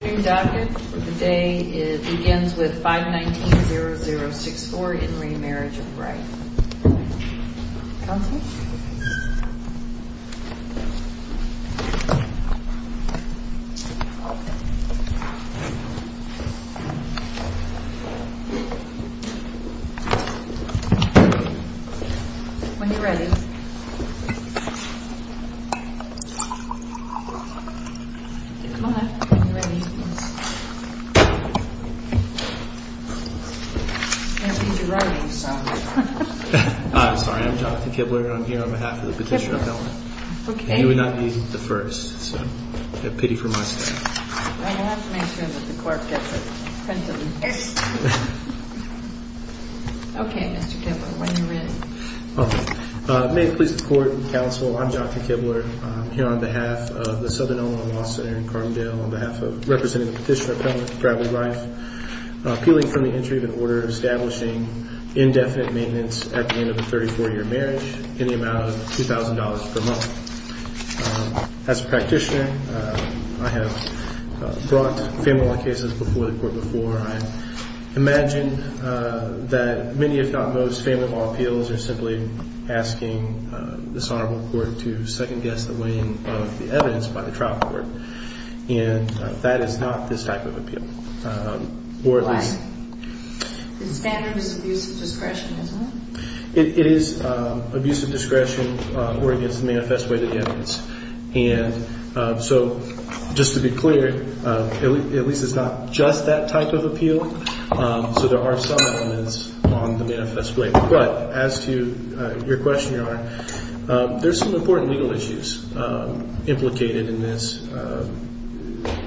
Wedding docket for the day. It begins with 519-0064 in re Marriage of Rife. Counselor? When you're ready. I'm sorry. I'm Dr. Kibler. I'm here on behalf of the Petitioner Appellant. Okay. And you would not be the first, so pity for my staff. I'll have to make sure that the clerk gets a print of this. Okay, Mr. Kibler, when you're ready. Okay. When you're ready. Okay. When you're ready. Okay. When you're ready. May it please the Court and Counsel, I'm Dr. Kibler. I'm here on behalf of the Southern Illinois Law Center in Carbondale, on behalf of representing the Petitioner Appellant for Ravelry Rife, appealing for the entry of an order establishing indefinite maintenance at the end of a 34-year marriage in the amount of $2,000 per month. As a practitioner, I have brought family law cases before the Court before. I imagine that many, if not most, family law appeals are simply asking this Honorable Court to second-guess the weighing of the evidence by the trial court. And that is not this type of appeal. Why? The standard is abuse of discretion, isn't it? It is abuse of discretion or against the manifest way to the evidence. And so just to be clear, at least it's not just that type of appeal. So there are some elements on the manifest way. But as to your question, Your Honor, there's some important legal issues implicated in this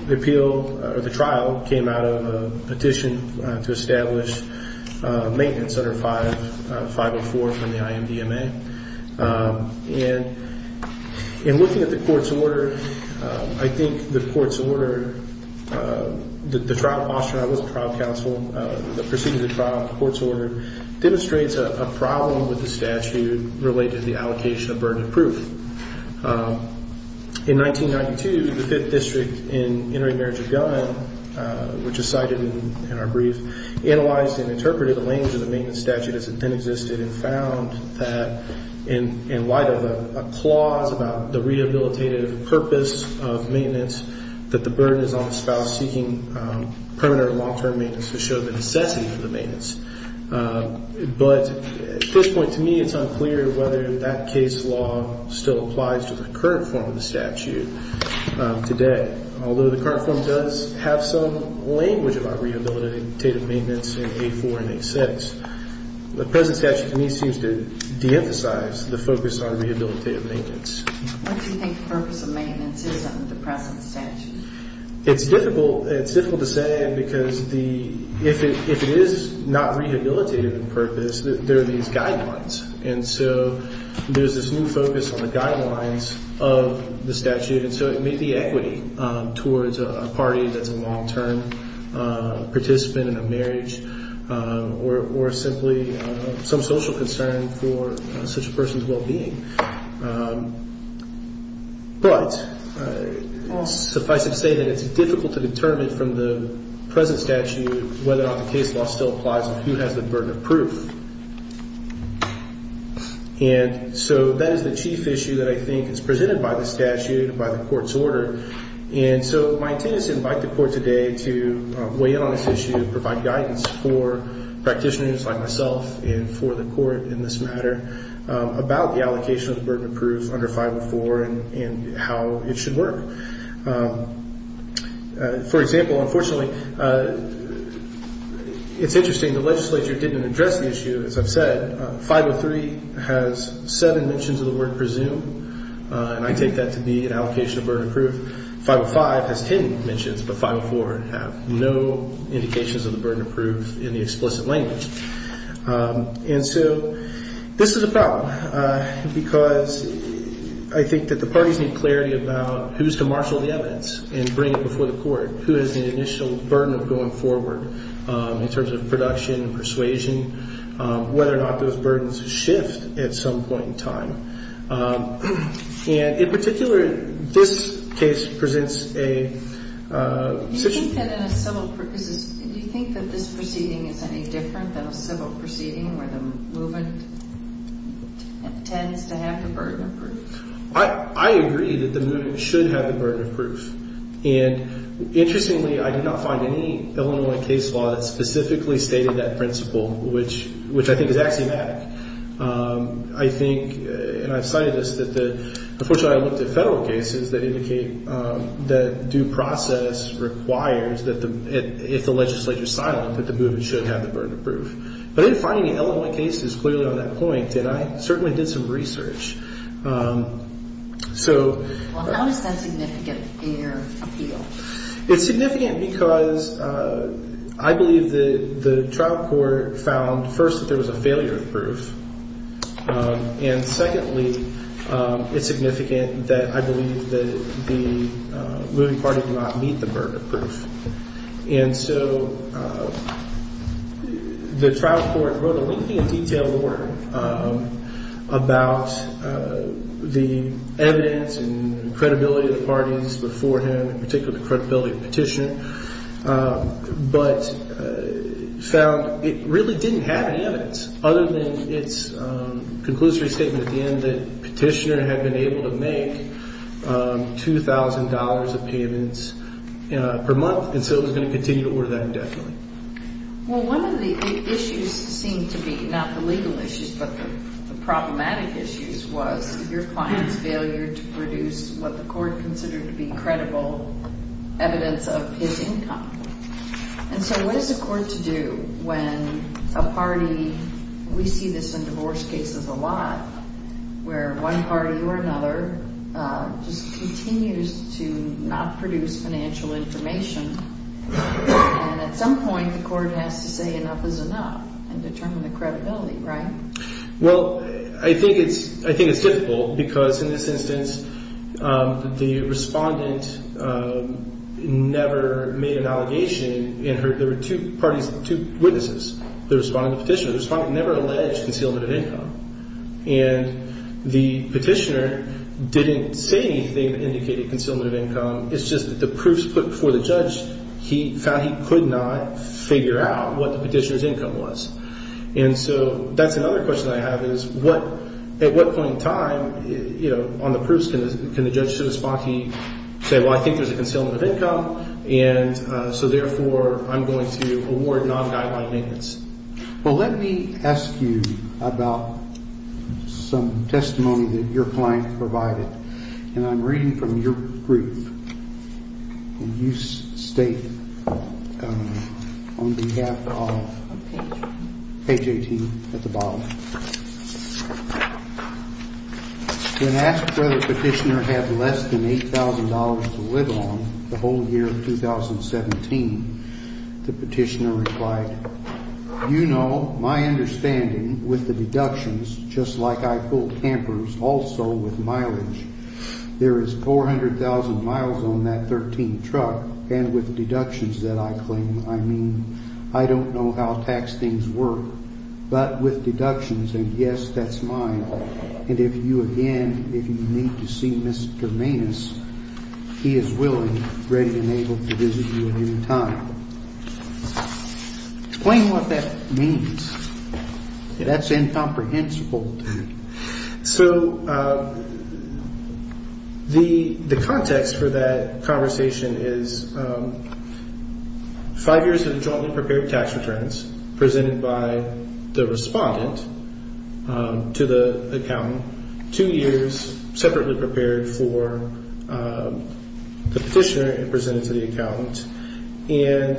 appeal. The trial came out of a petition to establish maintenance under 504 from the IMDMA. And in looking at the Court's order, I think the Court's order, the trial posture, I wasn't trial counsel, the proceedings of the trial, the Court's order demonstrates a problem with the statute related to the allocation of burden of proof. In 1992, the Fifth District in Interim Marriage of Gun, which is cited in our brief, analyzed and interpreted the language of the maintenance statute as it then existed and found that in light of a clause about the rehabilitative purpose of maintenance, that the burden is on the spouse seeking permanent or long-term maintenance to show the necessity for the maintenance. But at this point, to me, it's unclear whether that case law still applies to the current form of the statute today. Although the current form does have some language about rehabilitative maintenance in 8-4 and 8-6, the present statute, to me, seems to deemphasize the focus on rehabilitative maintenance. What do you think the purpose of maintenance is under the present statute? It's difficult to say because if it is not rehabilitative in purpose, there are these guidelines. And so there's this new focus on the guidelines of the statute, and so it may be equity towards a party that's a long-term participant in a marriage or simply some social concern for such a person's well-being. But suffice it to say that it's difficult to determine from the present statute whether or not the case law still applies and who has the burden of proof. And so that is the chief issue that I think is presented by the statute and by the court's order. And so my intent is to invite the court today to weigh in on this issue and provide guidance for practitioners like myself and for the court in this matter about the allocation of the burden of proof under 504 and how it should work. For example, unfortunately, it's interesting the legislature didn't address the issue, as I've said. 503 has seven mentions of the word presume, and I take that to be an allocation of burden of proof. 505 has 10 mentions, but 504 have no indications of the burden of proof in the explicit language. And so this is a problem because I think that the parties need clarity about who's to marshal the evidence and bring it before the court, who has the initial burden of going forward in terms of production and persuasion, whether or not those burdens shift at some point in time. And in particular, this case presents a situation. Do you think that this proceeding is any different than a civil proceeding where the movement tends to have the burden of proof? I agree that the movement should have the burden of proof. And interestingly, I did not find any Illinois case law that specifically stated that principle, which I think is axiomatic. I think, and I've cited this, that unfortunately I looked at federal cases that indicate that due process requires that if the legislature is silent, that the movement should have the burden of proof. But I didn't find any Illinois cases clearly on that point, and I certainly did some research. Well, how is that significant in your appeal? It's significant because I believe that the trial court found, first, that there was a failure of proof. And secondly, it's significant that I believe that the moving party did not meet the burden of proof. And so the trial court wrote a lengthy and detailed order about the evidence and credibility of the parties before him, in particular the credibility of the petitioner, but found it really didn't have any evidence other than its conclusory statement at the end that the petitioner had been able to make $2,000 of payments per month, and so it was going to continue to order that indefinitely. Well, one of the issues seemed to be, not the legal issues, but the problematic issues, was your client's failure to produce what the court considered to be credible evidence of his income. And so what is the court to do when a party, we see this in divorce cases a lot, where one party or another just continues to not produce financial information, and at some point the court has to say enough is enough and determine the credibility, right? Well, I think it's difficult because in this instance, the respondent never made an allegation and there were two parties, two witnesses, the respondent and the petitioner. The respondent never alleged concealment of income. And the petitioner didn't say anything that indicated concealment of income. It's just that the proofs put before the judge, he found he could not figure out what the petitioner's income was. And so that's another question I have is at what point in time on the proofs can the judge say, well, I think there's a concealment of income, and so therefore I'm going to award non-guideline payments. Well, let me ask you about some testimony that your client provided, and I'm reading from your proof, and you state on behalf of page 18 at the bottom. When asked whether the petitioner had less than $8,000 to live on the whole year of 2017, the petitioner replied, You know my understanding with the deductions, just like I pull campers, also with mileage. There is 400,000 miles on that 13 truck, and with deductions that I claim, I mean, I don't know how tax things work. But with deductions, and yes, that's mine, and if you again, if you need to see Mr. Manus, he is willing, ready, and able to visit you at any time. Explain what that means. That's incomprehensible to me. So the context for that conversation is five years of jointly prepared tax returns presented by the respondent to the accountant, two years separately prepared for the petitioner and presented to the accountant. And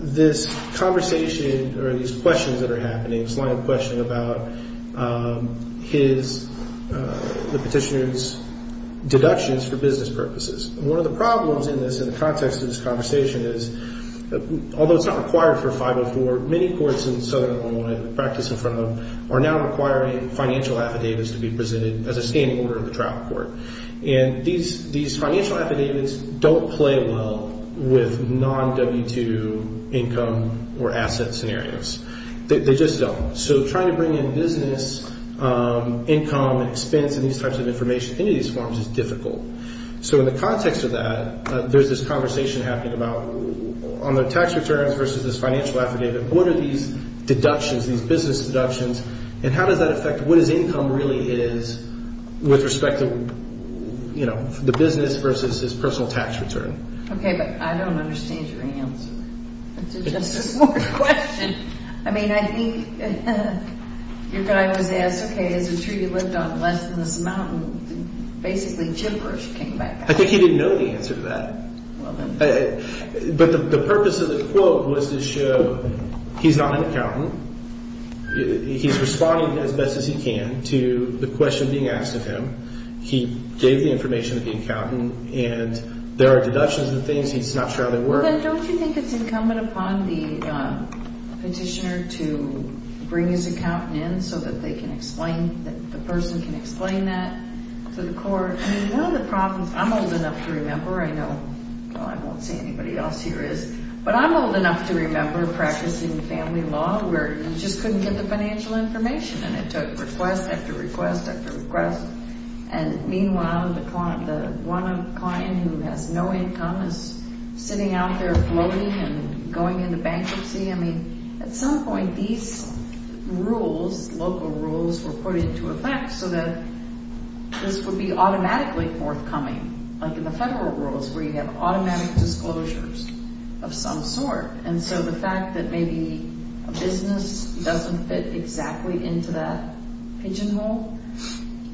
this conversation, or these questions that are happening, it's not a question about his, the petitioner's deductions for business purposes. One of the problems in this, in the context of this conversation is, although it's not required for 504, many courts in Southern Illinois that practice in front of them are now requiring financial affidavits to be presented as a standing order in the trial court. And these financial affidavits don't play well with non-W-2 income or asset scenarios. They just don't. So trying to bring in business income and expense and these types of information into these forms is difficult. So in the context of that, there's this conversation happening about on the tax returns versus this financial affidavit, what are these deductions, these business deductions, and how does that affect what his income really is with respect to, you know, the business versus his personal tax return? Okay, but I don't understand your answer to just this one question. I mean, I think your guy was asked, okay, is it true you lived on less than this amount? And basically, gibberish came back out. I think he didn't know the answer to that. But the purpose of the quote was to show he's not an accountant. He's responding as best as he can to the question being asked of him. He gave the information to the accountant, and there are deductions and things. He's not sure how they work. Well, then don't you think it's incumbent upon the petitioner to bring his accountant in so that they can explain, that the person can explain that to the court? I mean, one of the problems, I'm old enough to remember, I know, well, I won't say anybody else here is, but I'm old enough to remember practicing family law where you just couldn't get the financial information, and it took request after request after request. And meanwhile, the one client who has no income is sitting out there floating and going into bankruptcy. I mean, at some point, these rules, local rules, were put into effect so that this would be automatically forthcoming, like in the federal rules where you have automatic disclosures of some sort. And so the fact that maybe a business doesn't fit exactly into that pigeonhole,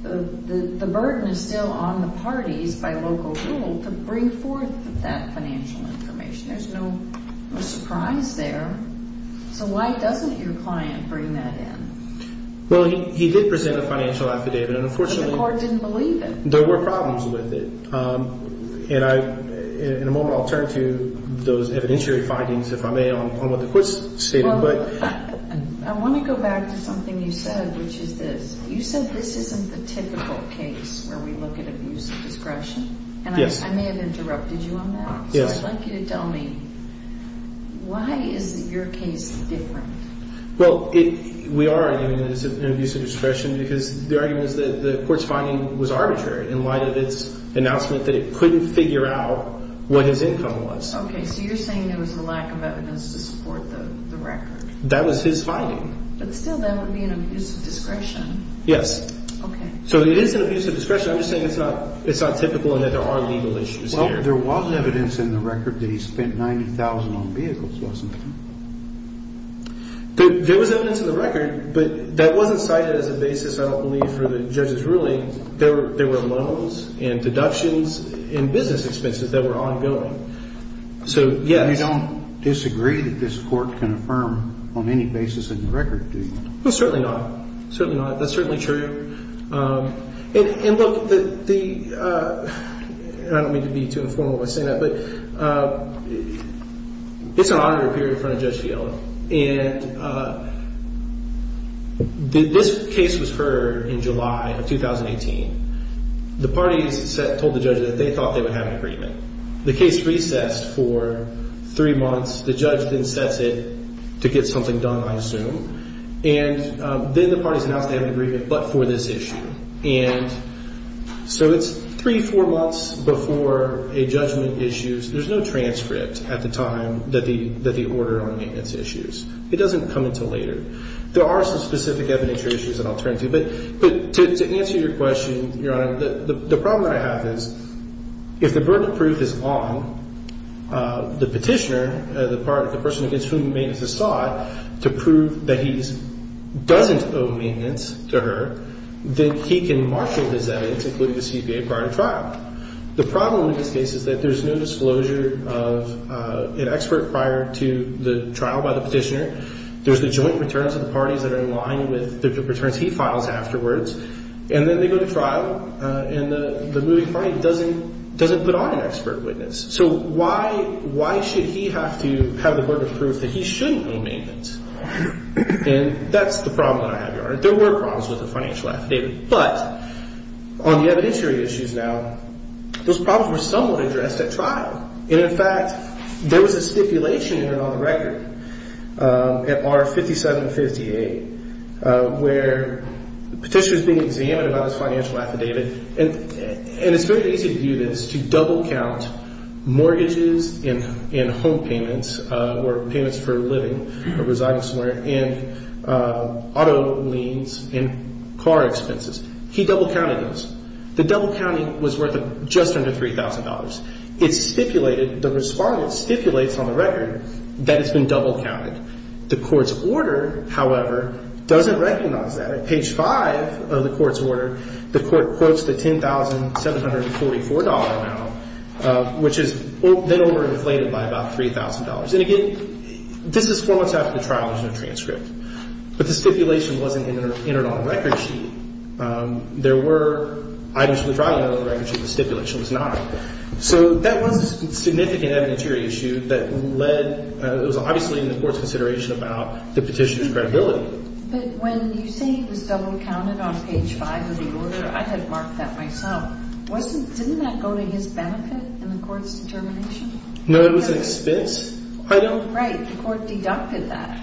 the burden is still on the parties by local rule to bring forth that financial information. There's no surprise there. So why doesn't your client bring that in? Well, he did present a financial affidavit, and unfortunately... But the court didn't believe it. There were problems with it. And in a moment, I'll turn to those evidentiary findings, if I may, on what the court's stating. Well, I want to go back to something you said, which is this. You said this isn't the typical case where we look at abuse of discretion. Yes. And I may have interrupted you on that. Yes. So I'd like you to tell me, why is your case different? Well, we are arguing that it's an abuse of discretion because the argument is that the court's finding was arbitrary in light of its announcement that it couldn't figure out what his income was. Okay. So you're saying there was a lack of evidence to support the record. That was his finding. But still, that would be an abuse of discretion. Yes. Okay. So it is an abuse of discretion. I'm just saying it's not typical and that there are legal issues here. There was evidence in the record that he spent $90,000 on vehicles, wasn't there? There was evidence in the record, but that wasn't cited as a basis, I don't believe, for the judge's ruling. There were loans and deductions and business expenses that were ongoing. So, yes. You don't disagree that this court can affirm on any basis in the record, do you? Well, certainly not. Certainly not. That's certainly true. And, look, I don't mean to be too informal when I say that, but it's an honor to appear in front of Judge Fiala. And this case was heard in July of 2018. The parties told the judge that they thought they would have an agreement. The case recessed for three months. The judge then sets it to get something done, I assume. And then the parties announced they had an agreement but for this issue. And so it's three, four months before a judgment issues. There's no transcript at the time that the order on maintenance issues. It doesn't come until later. There are some specific evidentiary issues that I'll turn to. But to answer your question, Your Honor, the problem that I have is if the burden of proof is on the petitioner, the person against whom maintenance is sought, to prove that he doesn't owe maintenance to her, then he can marshal his evidence, including the CBA, prior to trial. The problem in this case is that there's no disclosure of an expert prior to the trial by the petitioner. There's the joint returns of the parties that are in line with the returns he files afterwards. And then they go to trial, and the moving party doesn't put on an expert witness. So why should he have to have the burden of proof that he shouldn't owe maintenance? And that's the problem that I have, Your Honor. There were problems with the financial affidavit. But on the evidentiary issues now, those problems were somewhat addressed at trial. And, in fact, there was a stipulation in it on the record at R5758 where the petitioner is being examined about his financial affidavit. And it's very easy to do this, to double count mortgages and home payments or payments for living or residing somewhere and auto liens and car expenses. He double counted those. The double counting was worth just under $3,000. It stipulated, the respondent stipulates on the record that it's been double counted. The court's order, however, doesn't recognize that. At page 5 of the court's order, the court quotes the $10,744 amount, which is then overinflated by about $3,000. And, again, this is four months after the trial. There's no transcript. But the stipulation wasn't entered on the record sheet. There were items from the trial that were on the record sheet. The stipulation was not. So that was a significant evidentiary issue that led, it was obviously in the court's consideration about the petitioner's credibility. But when you say it was double counted on page 5 of the order, I had marked that myself. Wasn't, didn't that go to his benefit in the court's determination? No, it was an expense item. Right. The court deducted that.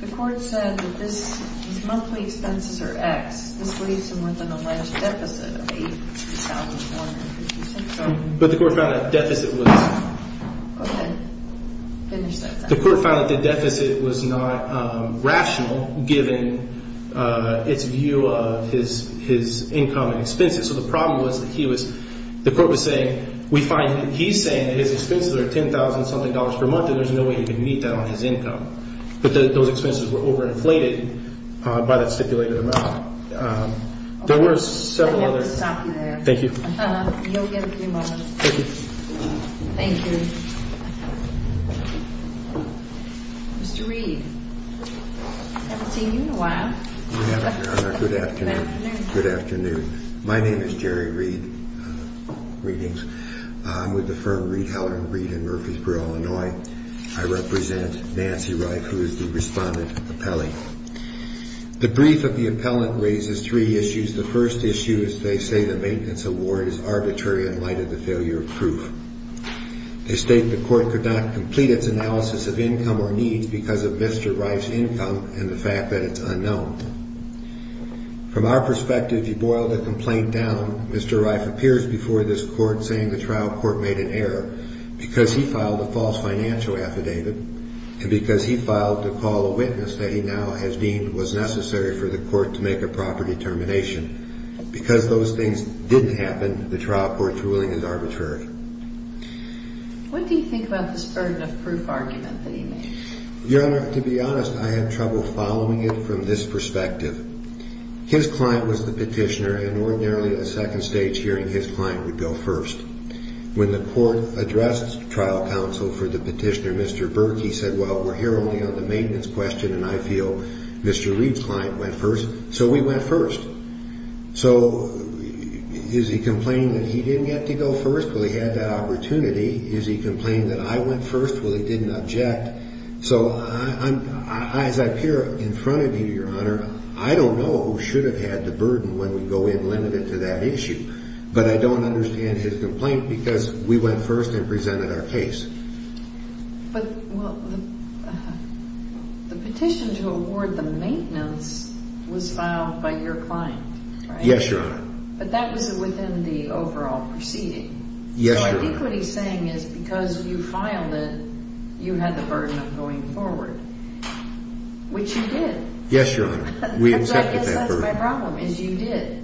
The court said that this, his monthly expenses are X. This leaves him with an alleged deficit of $8,400. But the court found that deficit was. Go ahead. Finish that sentence. The court found that the deficit was not rational given its view of his income and expenses. So the problem was that he was, the court was saying, we find that he's saying that his expenses are $10,000 something dollars per month and there's no way he can meet that on his income. But those expenses were overinflated by that stipulated amount. There were several other. Thank you. You'll get a few more. Thank you. Thank you. Mr. Reed. Haven't seen you in a while. Good afternoon. Good afternoon. My name is Jerry Reed. Greetings. I'm with the firm Reed Heller and Reed in Murfreesboro, Illinois. I represent Nancy Wright, who is the respondent appellee. The brief of the appellant raises three issues. The first issue is they say the maintenance award is arbitrary in light of the failure of proof. They state the court could not complete its analysis of income or needs because of Mr. Reif's income and the fact that it's unknown. From our perspective, if you boil the complaint down, Mr. Reif appears before this court saying the trial court made an error because he filed a false financial affidavit and because he filed to call a witness that he now has deemed was necessary for the court to make a proper determination. Because those things didn't happen, the trial court's ruling is arbitrary. What do you think about this burden of proof argument that he made? Your Honor, to be honest, I had trouble following it from this perspective. His client was the petitioner, and ordinarily a second stage hearing, his client would go first. When the court addressed trial counsel for the petitioner, Mr. Berkey said, well, we're here only on the maintenance question, and I feel Mr. Reif's client went first, so we went first. So is he complaining that he didn't get to go first? Well, he had that opportunity. Is he complaining that I went first? Well, he didn't object. So as I appear in front of you, Your Honor, I don't know who should have had the burden when we go in limited to that issue, but I don't understand his complaint because we went first and presented our case. But, well, the petition to award the maintenance was filed by your client, right? Yes, Your Honor. But that was within the overall proceeding. Yes, Your Honor. So I think what he's saying is because you filed it, you had the burden of going forward, which you did. Yes, Your Honor. So I guess that's my problem, is you did.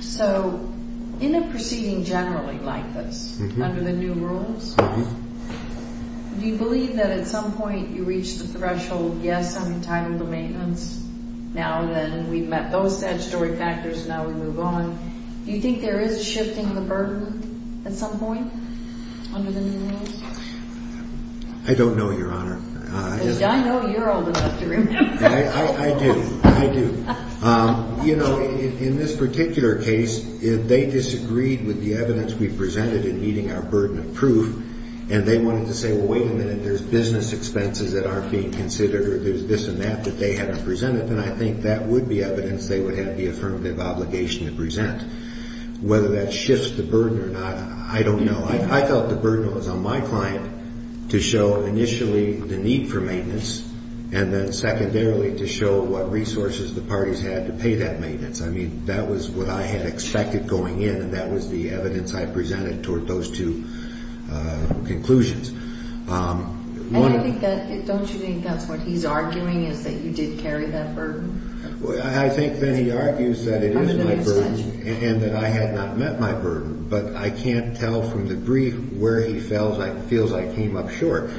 So in a proceeding generally like this, under the new rules, do you believe that at some point you reach the threshold, yes, I'm entitled to maintenance now that we've met those statutory factors and now we move on? Do you think there is a shifting of the burden at some point under the new rules? I don't know, Your Honor. I know you're old enough to remember. I do, I do. You know, in this particular case, if they disagreed with the evidence we presented in meeting our burden of proof and they wanted to say, well, wait a minute, there's business expenses that aren't being considered or there's this and that that they haven't presented, then I think that would be evidence they would have the affirmative obligation to present. Whether that shifts the burden or not, I don't know. I felt the burden was on my client to show initially the need for maintenance and then secondarily to show what resources the parties had to pay that maintenance. I mean, that was what I had expected going in, and that was the evidence I presented toward those two conclusions. And I think that, don't you think that's what he's arguing, is that you did carry that burden? I think that he argues that it is my burden and that I had not met my burden, but I can't tell from the brief where he feels I came up short.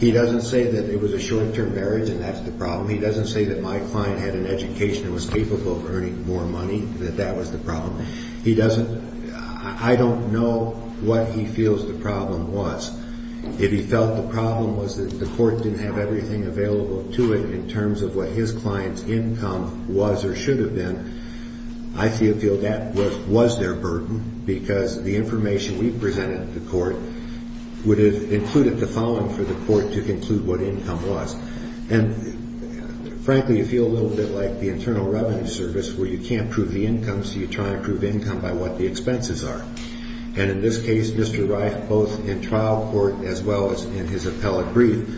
He doesn't say that it was a short-term marriage and that's the problem. He doesn't say that my client had an education and was capable of earning more money, that that was the problem. I don't know what he feels the problem was. If he felt the problem was that the court didn't have everything available to it in terms of what his client's income was or should have been, I feel that was their burden because the information we presented to court would have included the following for the court to conclude what income was. And frankly, you feel a little bit like the Internal Revenue Service where you can't prove the income, so you try and prove income by what the expenses are. And in this case, Mr. Reif, both in trial court as well as in his appellate brief,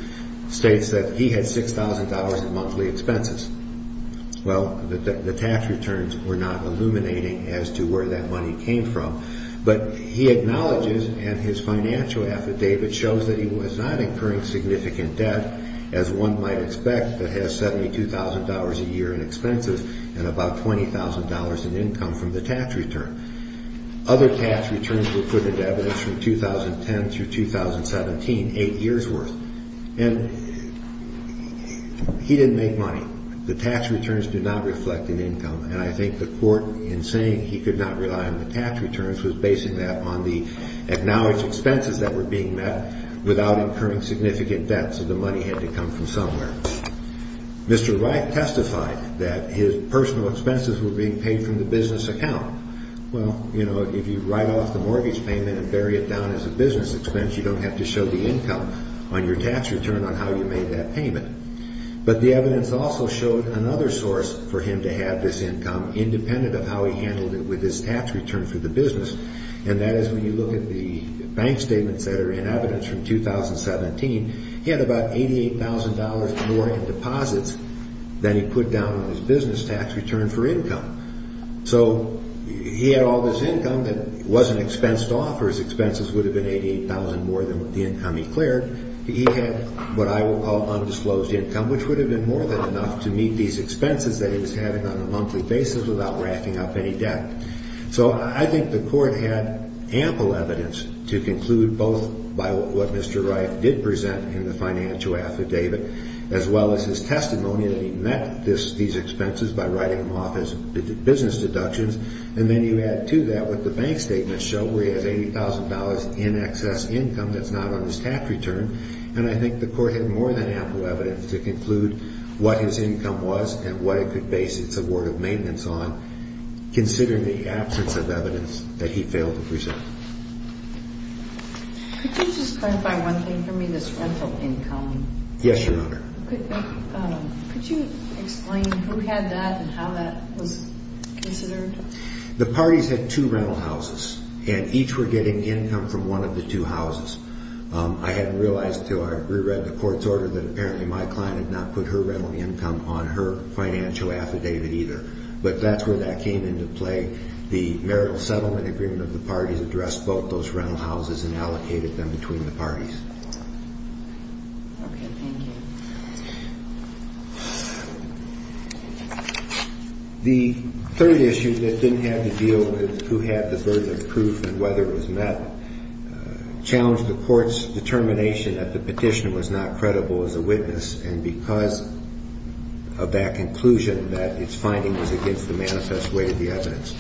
states that he had $6,000 in monthly expenses. Well, the tax returns were not illuminating as to where that money came from, but he acknowledges and his financial affidavit shows that he was not incurring significant debt, as one might expect that has $72,000 a year in expenses and about $20,000 in income from the tax return. Other tax returns were put into evidence from 2010 through 2017, eight years worth. And he didn't make money. The tax returns did not reflect an income, and I think the court, in saying he could not rely on the tax returns, was basing that on the acknowledged expenses that were being met without incurring significant debt, so the money had to come from somewhere. Mr. Reif testified that his personal expenses were being paid from the business account. Well, you know, if you write off the mortgage payment and bury it down as a business expense, you don't have to show the income on your tax return on how you made that payment. But the evidence also showed another source for him to have this income, independent of how he handled it with his tax return for the business, and that is when you look at the bank statements that are in evidence from 2017, he had about $88,000 more in deposits than he put down on his business tax return for income. So he had all this income that wasn't expensed off, or his expenses would have been $88,000 more than the income he cleared. He had what I would call undisclosed income, which would have been more than enough to meet these expenses that he was having on a monthly basis without racking up any debt. So I think the court had ample evidence to conclude, both by what Mr. Reif did present in the financial affidavit, as well as his testimony that he met these expenses by writing them off as business deductions, and then you add to that what the bank statements show, where he has $80,000 in excess income that's not on his tax return, and I think the court had more than ample evidence to conclude what his income was and what it could base its award of maintenance on, considering the absence of evidence that he failed to present. Could you just clarify one thing for me, this rental income? Yes, Your Honor. Could you explain who had that and how that was considered? The parties had two rental houses, and each were getting income from one of the two houses. I hadn't realized until I reread the court's order that apparently my client had not put her rental income on her financial affidavit either, but that's where that came into play. The marital settlement agreement of the parties addressed both those rental houses and allocated them between the parties. Okay, thank you. The third issue that didn't have to deal with who had the burden of proof and whether it was met challenged the court's determination that the petitioner was not credible as a witness and because of that conclusion that its finding was against the manifest way of the evidence.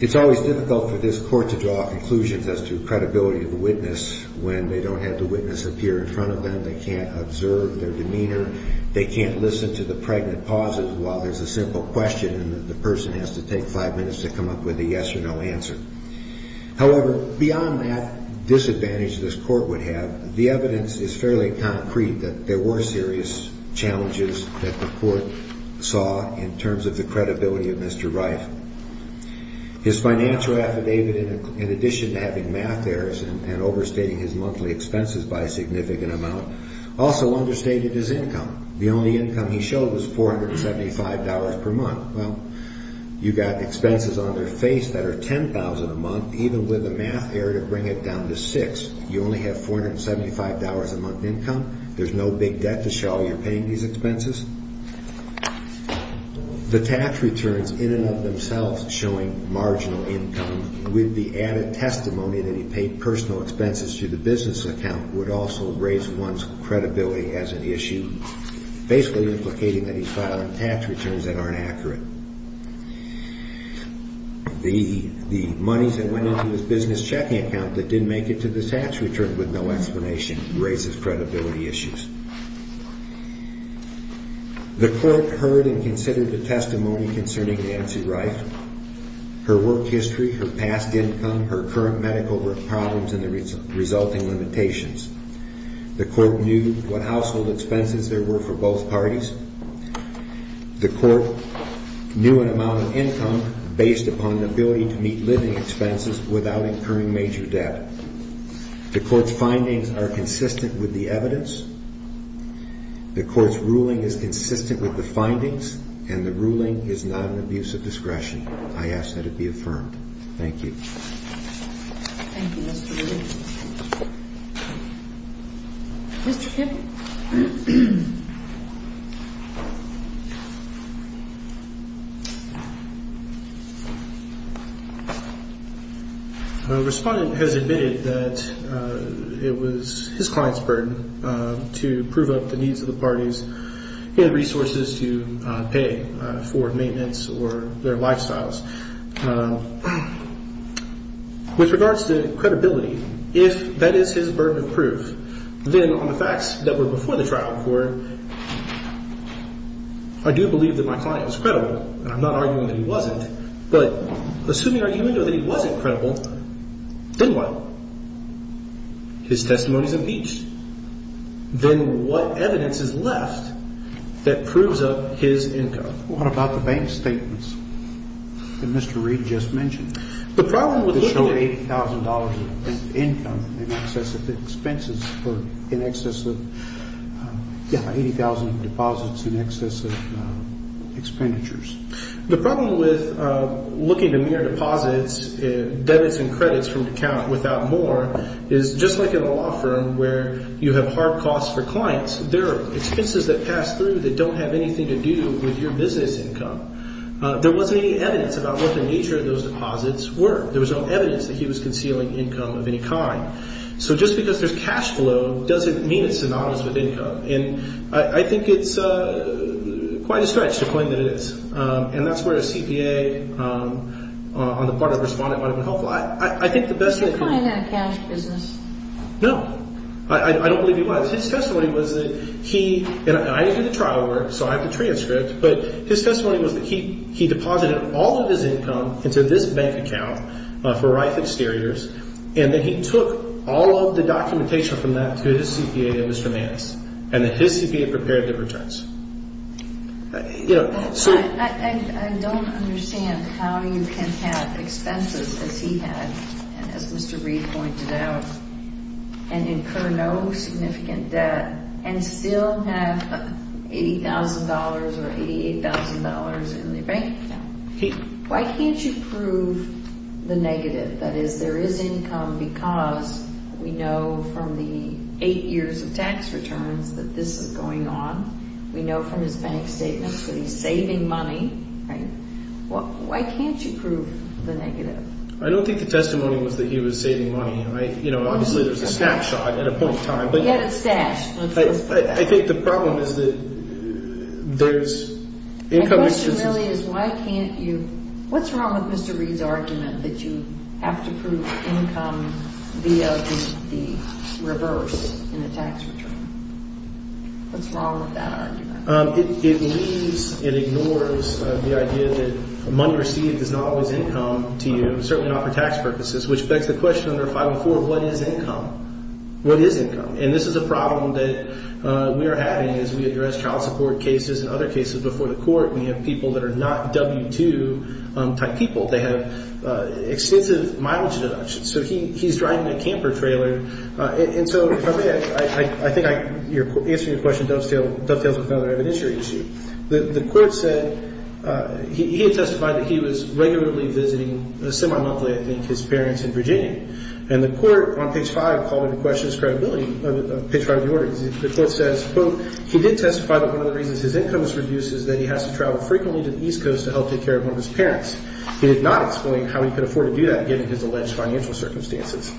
It's always difficult for this court to draw conclusions as to credibility of the witness when they don't have the witness appear in front of them, they can't observe their demeanor, they can't listen to the pregnant pauses while there's a simple question and the person has to take five minutes to come up with a yes or no answer. However, beyond that disadvantage this court would have, the evidence is fairly concrete that there were serious challenges that the court saw in terms of the credibility of Mr. Reif. His financial affidavit, in addition to having math errors and overstating his monthly expenses by a significant amount, also understated his income. The only income he showed was $475 per month. Well, you got expenses on their face that are $10,000 a month, even with a math error to bring it down to $6, you only have $475 a month income, there's no big debt to show you're paying these expenses. The tax returns in and of themselves showing marginal income with the added testimony that he paid personal expenses to the business account would also raise one's credibility as an issue, basically implicating that he's filing tax returns that aren't accurate. The monies that went into his business checking account that didn't make it to the tax return with no explanation raises credibility issues. The court heard and considered the testimony concerning Nancy Reif, her work history, her past income, her current medical problems and the resulting limitations. The court knew what household expenses there were for both parties. The court knew an amount of income based upon the ability to meet living expenses without incurring major debt. The court's findings are consistent with the evidence. The court's ruling is consistent with the findings and the ruling is not an abuse of discretion. I ask that it be affirmed. Thank you. The respondent has admitted that it was his client's burden to prove up the needs of the parties and resources to pay for maintenance or their lifestyles. With regards to credibility, if that is his burden of proof, then on the facts that were before the trial court, I do believe that my client was credible. I'm not arguing that he wasn't, but assuming our argument that he wasn't credible, then what? His testimony is impeached. Then what evidence is left that proves up his income? What about the bank statements that Mr. Reed just mentioned? The problem with looking at... That show $80,000 of income in excess of the expenses or in excess of, yeah, $80,000 of deposits in excess of expenditures. The problem with looking at mere deposits, debits and credits from an account without more is just like in a law firm where you have hard costs for clients. There are expenses that pass through that don't have anything to do with your business income. There wasn't any evidence about what the nature of those deposits were. There was no evidence that he was concealing income of any kind. So just because there's cash flow doesn't mean it's synonymous with income. And I think it's quite a stretch to claim that it is. And that's where a CPA on the part of a respondent might have been helpful. I think the best thing... He's not in that cash business. No. I don't believe he was. His testimony was that he... And I didn't do the trial work, so I have the transcript. But his testimony was that he deposited all of his income into this bank account for Reif Exteriors, and that he took all of the documentation from that to his CPA, Mr. Mannis, and that his CPA prepared the returns. You know, so... I don't understand how you can have expenses, as he had, and as Mr. Reif pointed out, and incur no significant debt and still have $80,000 or $88,000 in the bank account. Why can't you prove the negative, that is, there is income because we know from the 8 years of tax returns that this is going on? We know from his bank statements that he's saving money, right? Why can't you prove the negative? I don't think the testimony was that he was saving money. You know, obviously, there's a snapshot at a point in time. But yet it's stashed. I think the problem is that there's income... The question really is why can't you... What's wrong with Mr. Reid's argument that you have to prove income via the reverse in a tax return? What's wrong with that argument? It leaves and ignores the idea that money received is not always income to you, certainly not for tax purposes, which begs the question under 504, what is income? What is income? And this is a problem that we are having as we address child support cases and other cases before the court. We have people that are not W-2 type people. They have extensive mileage deductions. So he's driving a camper trailer. And so I think answering your question dovetails with another evidentiary issue. The court said he had testified that he was regularly visiting, semi-monthly I think, his parents in Virginia. And the court on page 5 called into question his credibility. Page 5 of the order. The court says, quote, he did testify that one of the reasons his income is reduced is that he has to travel frequently to the East Coast to help take care of one of his parents. He did not explain how he could afford to do that given his alleged financial circumstances.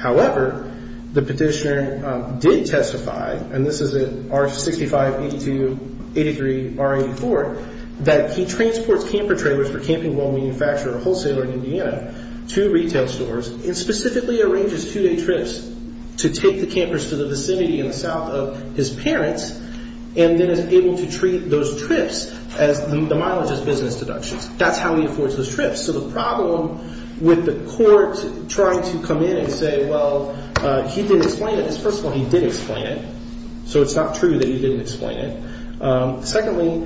However, the petitioner did testify, and this is in R65, 82, 83, R84, that he transports camper trailers for camping well manufacturer or wholesaler in Indiana to retail stores and specifically arranges two-day trips to take the campers to the vicinity in the south of his parents and then is able to treat those trips as the mileage as business deductions. That's how he affords those trips. So the problem with the court trying to come in and say, well, he didn't explain it. First of all, he did explain it, so it's not true that he didn't explain it. Secondly,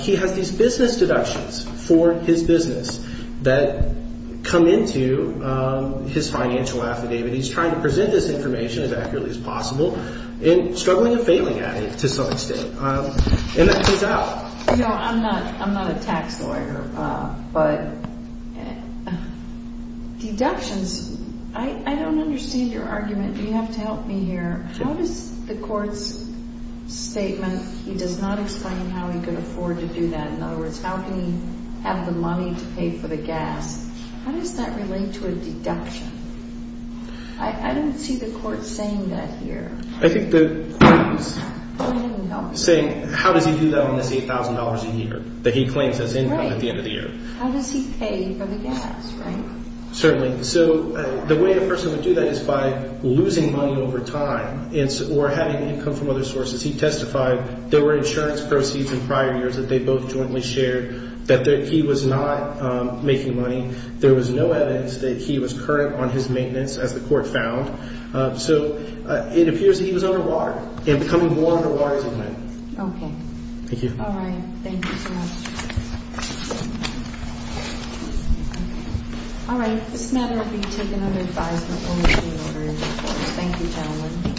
he has these business deductions for his business that come into his financial affidavit. He's trying to present this information as accurately as possible and struggling and failing at it to some extent. And that comes out. I'm not a tax lawyer, but deductions, I don't understand your argument. Do you have to help me here? How does the court's statement, he does not explain how he could afford to do that. In other words, how can he have the money to pay for the gas? How does that relate to a deduction? I don't see the court saying that here. I think the court is saying, how does he do that on this $8,000 a year that he claims as income at the end of the year? How does he pay for the gas, right? Certainly. So the way a person would do that is by losing money over time or having income from other sources. He testified there were insurance proceeds in prior years that they both jointly shared that he was not making money. There was no evidence that he was current on his maintenance, as the court found. So it appears that he was under water and becoming more under water as he went. Okay. Thank you. All right. Thank you so much. All right. This matter will be taken under advisement. Thank you, gentlemen.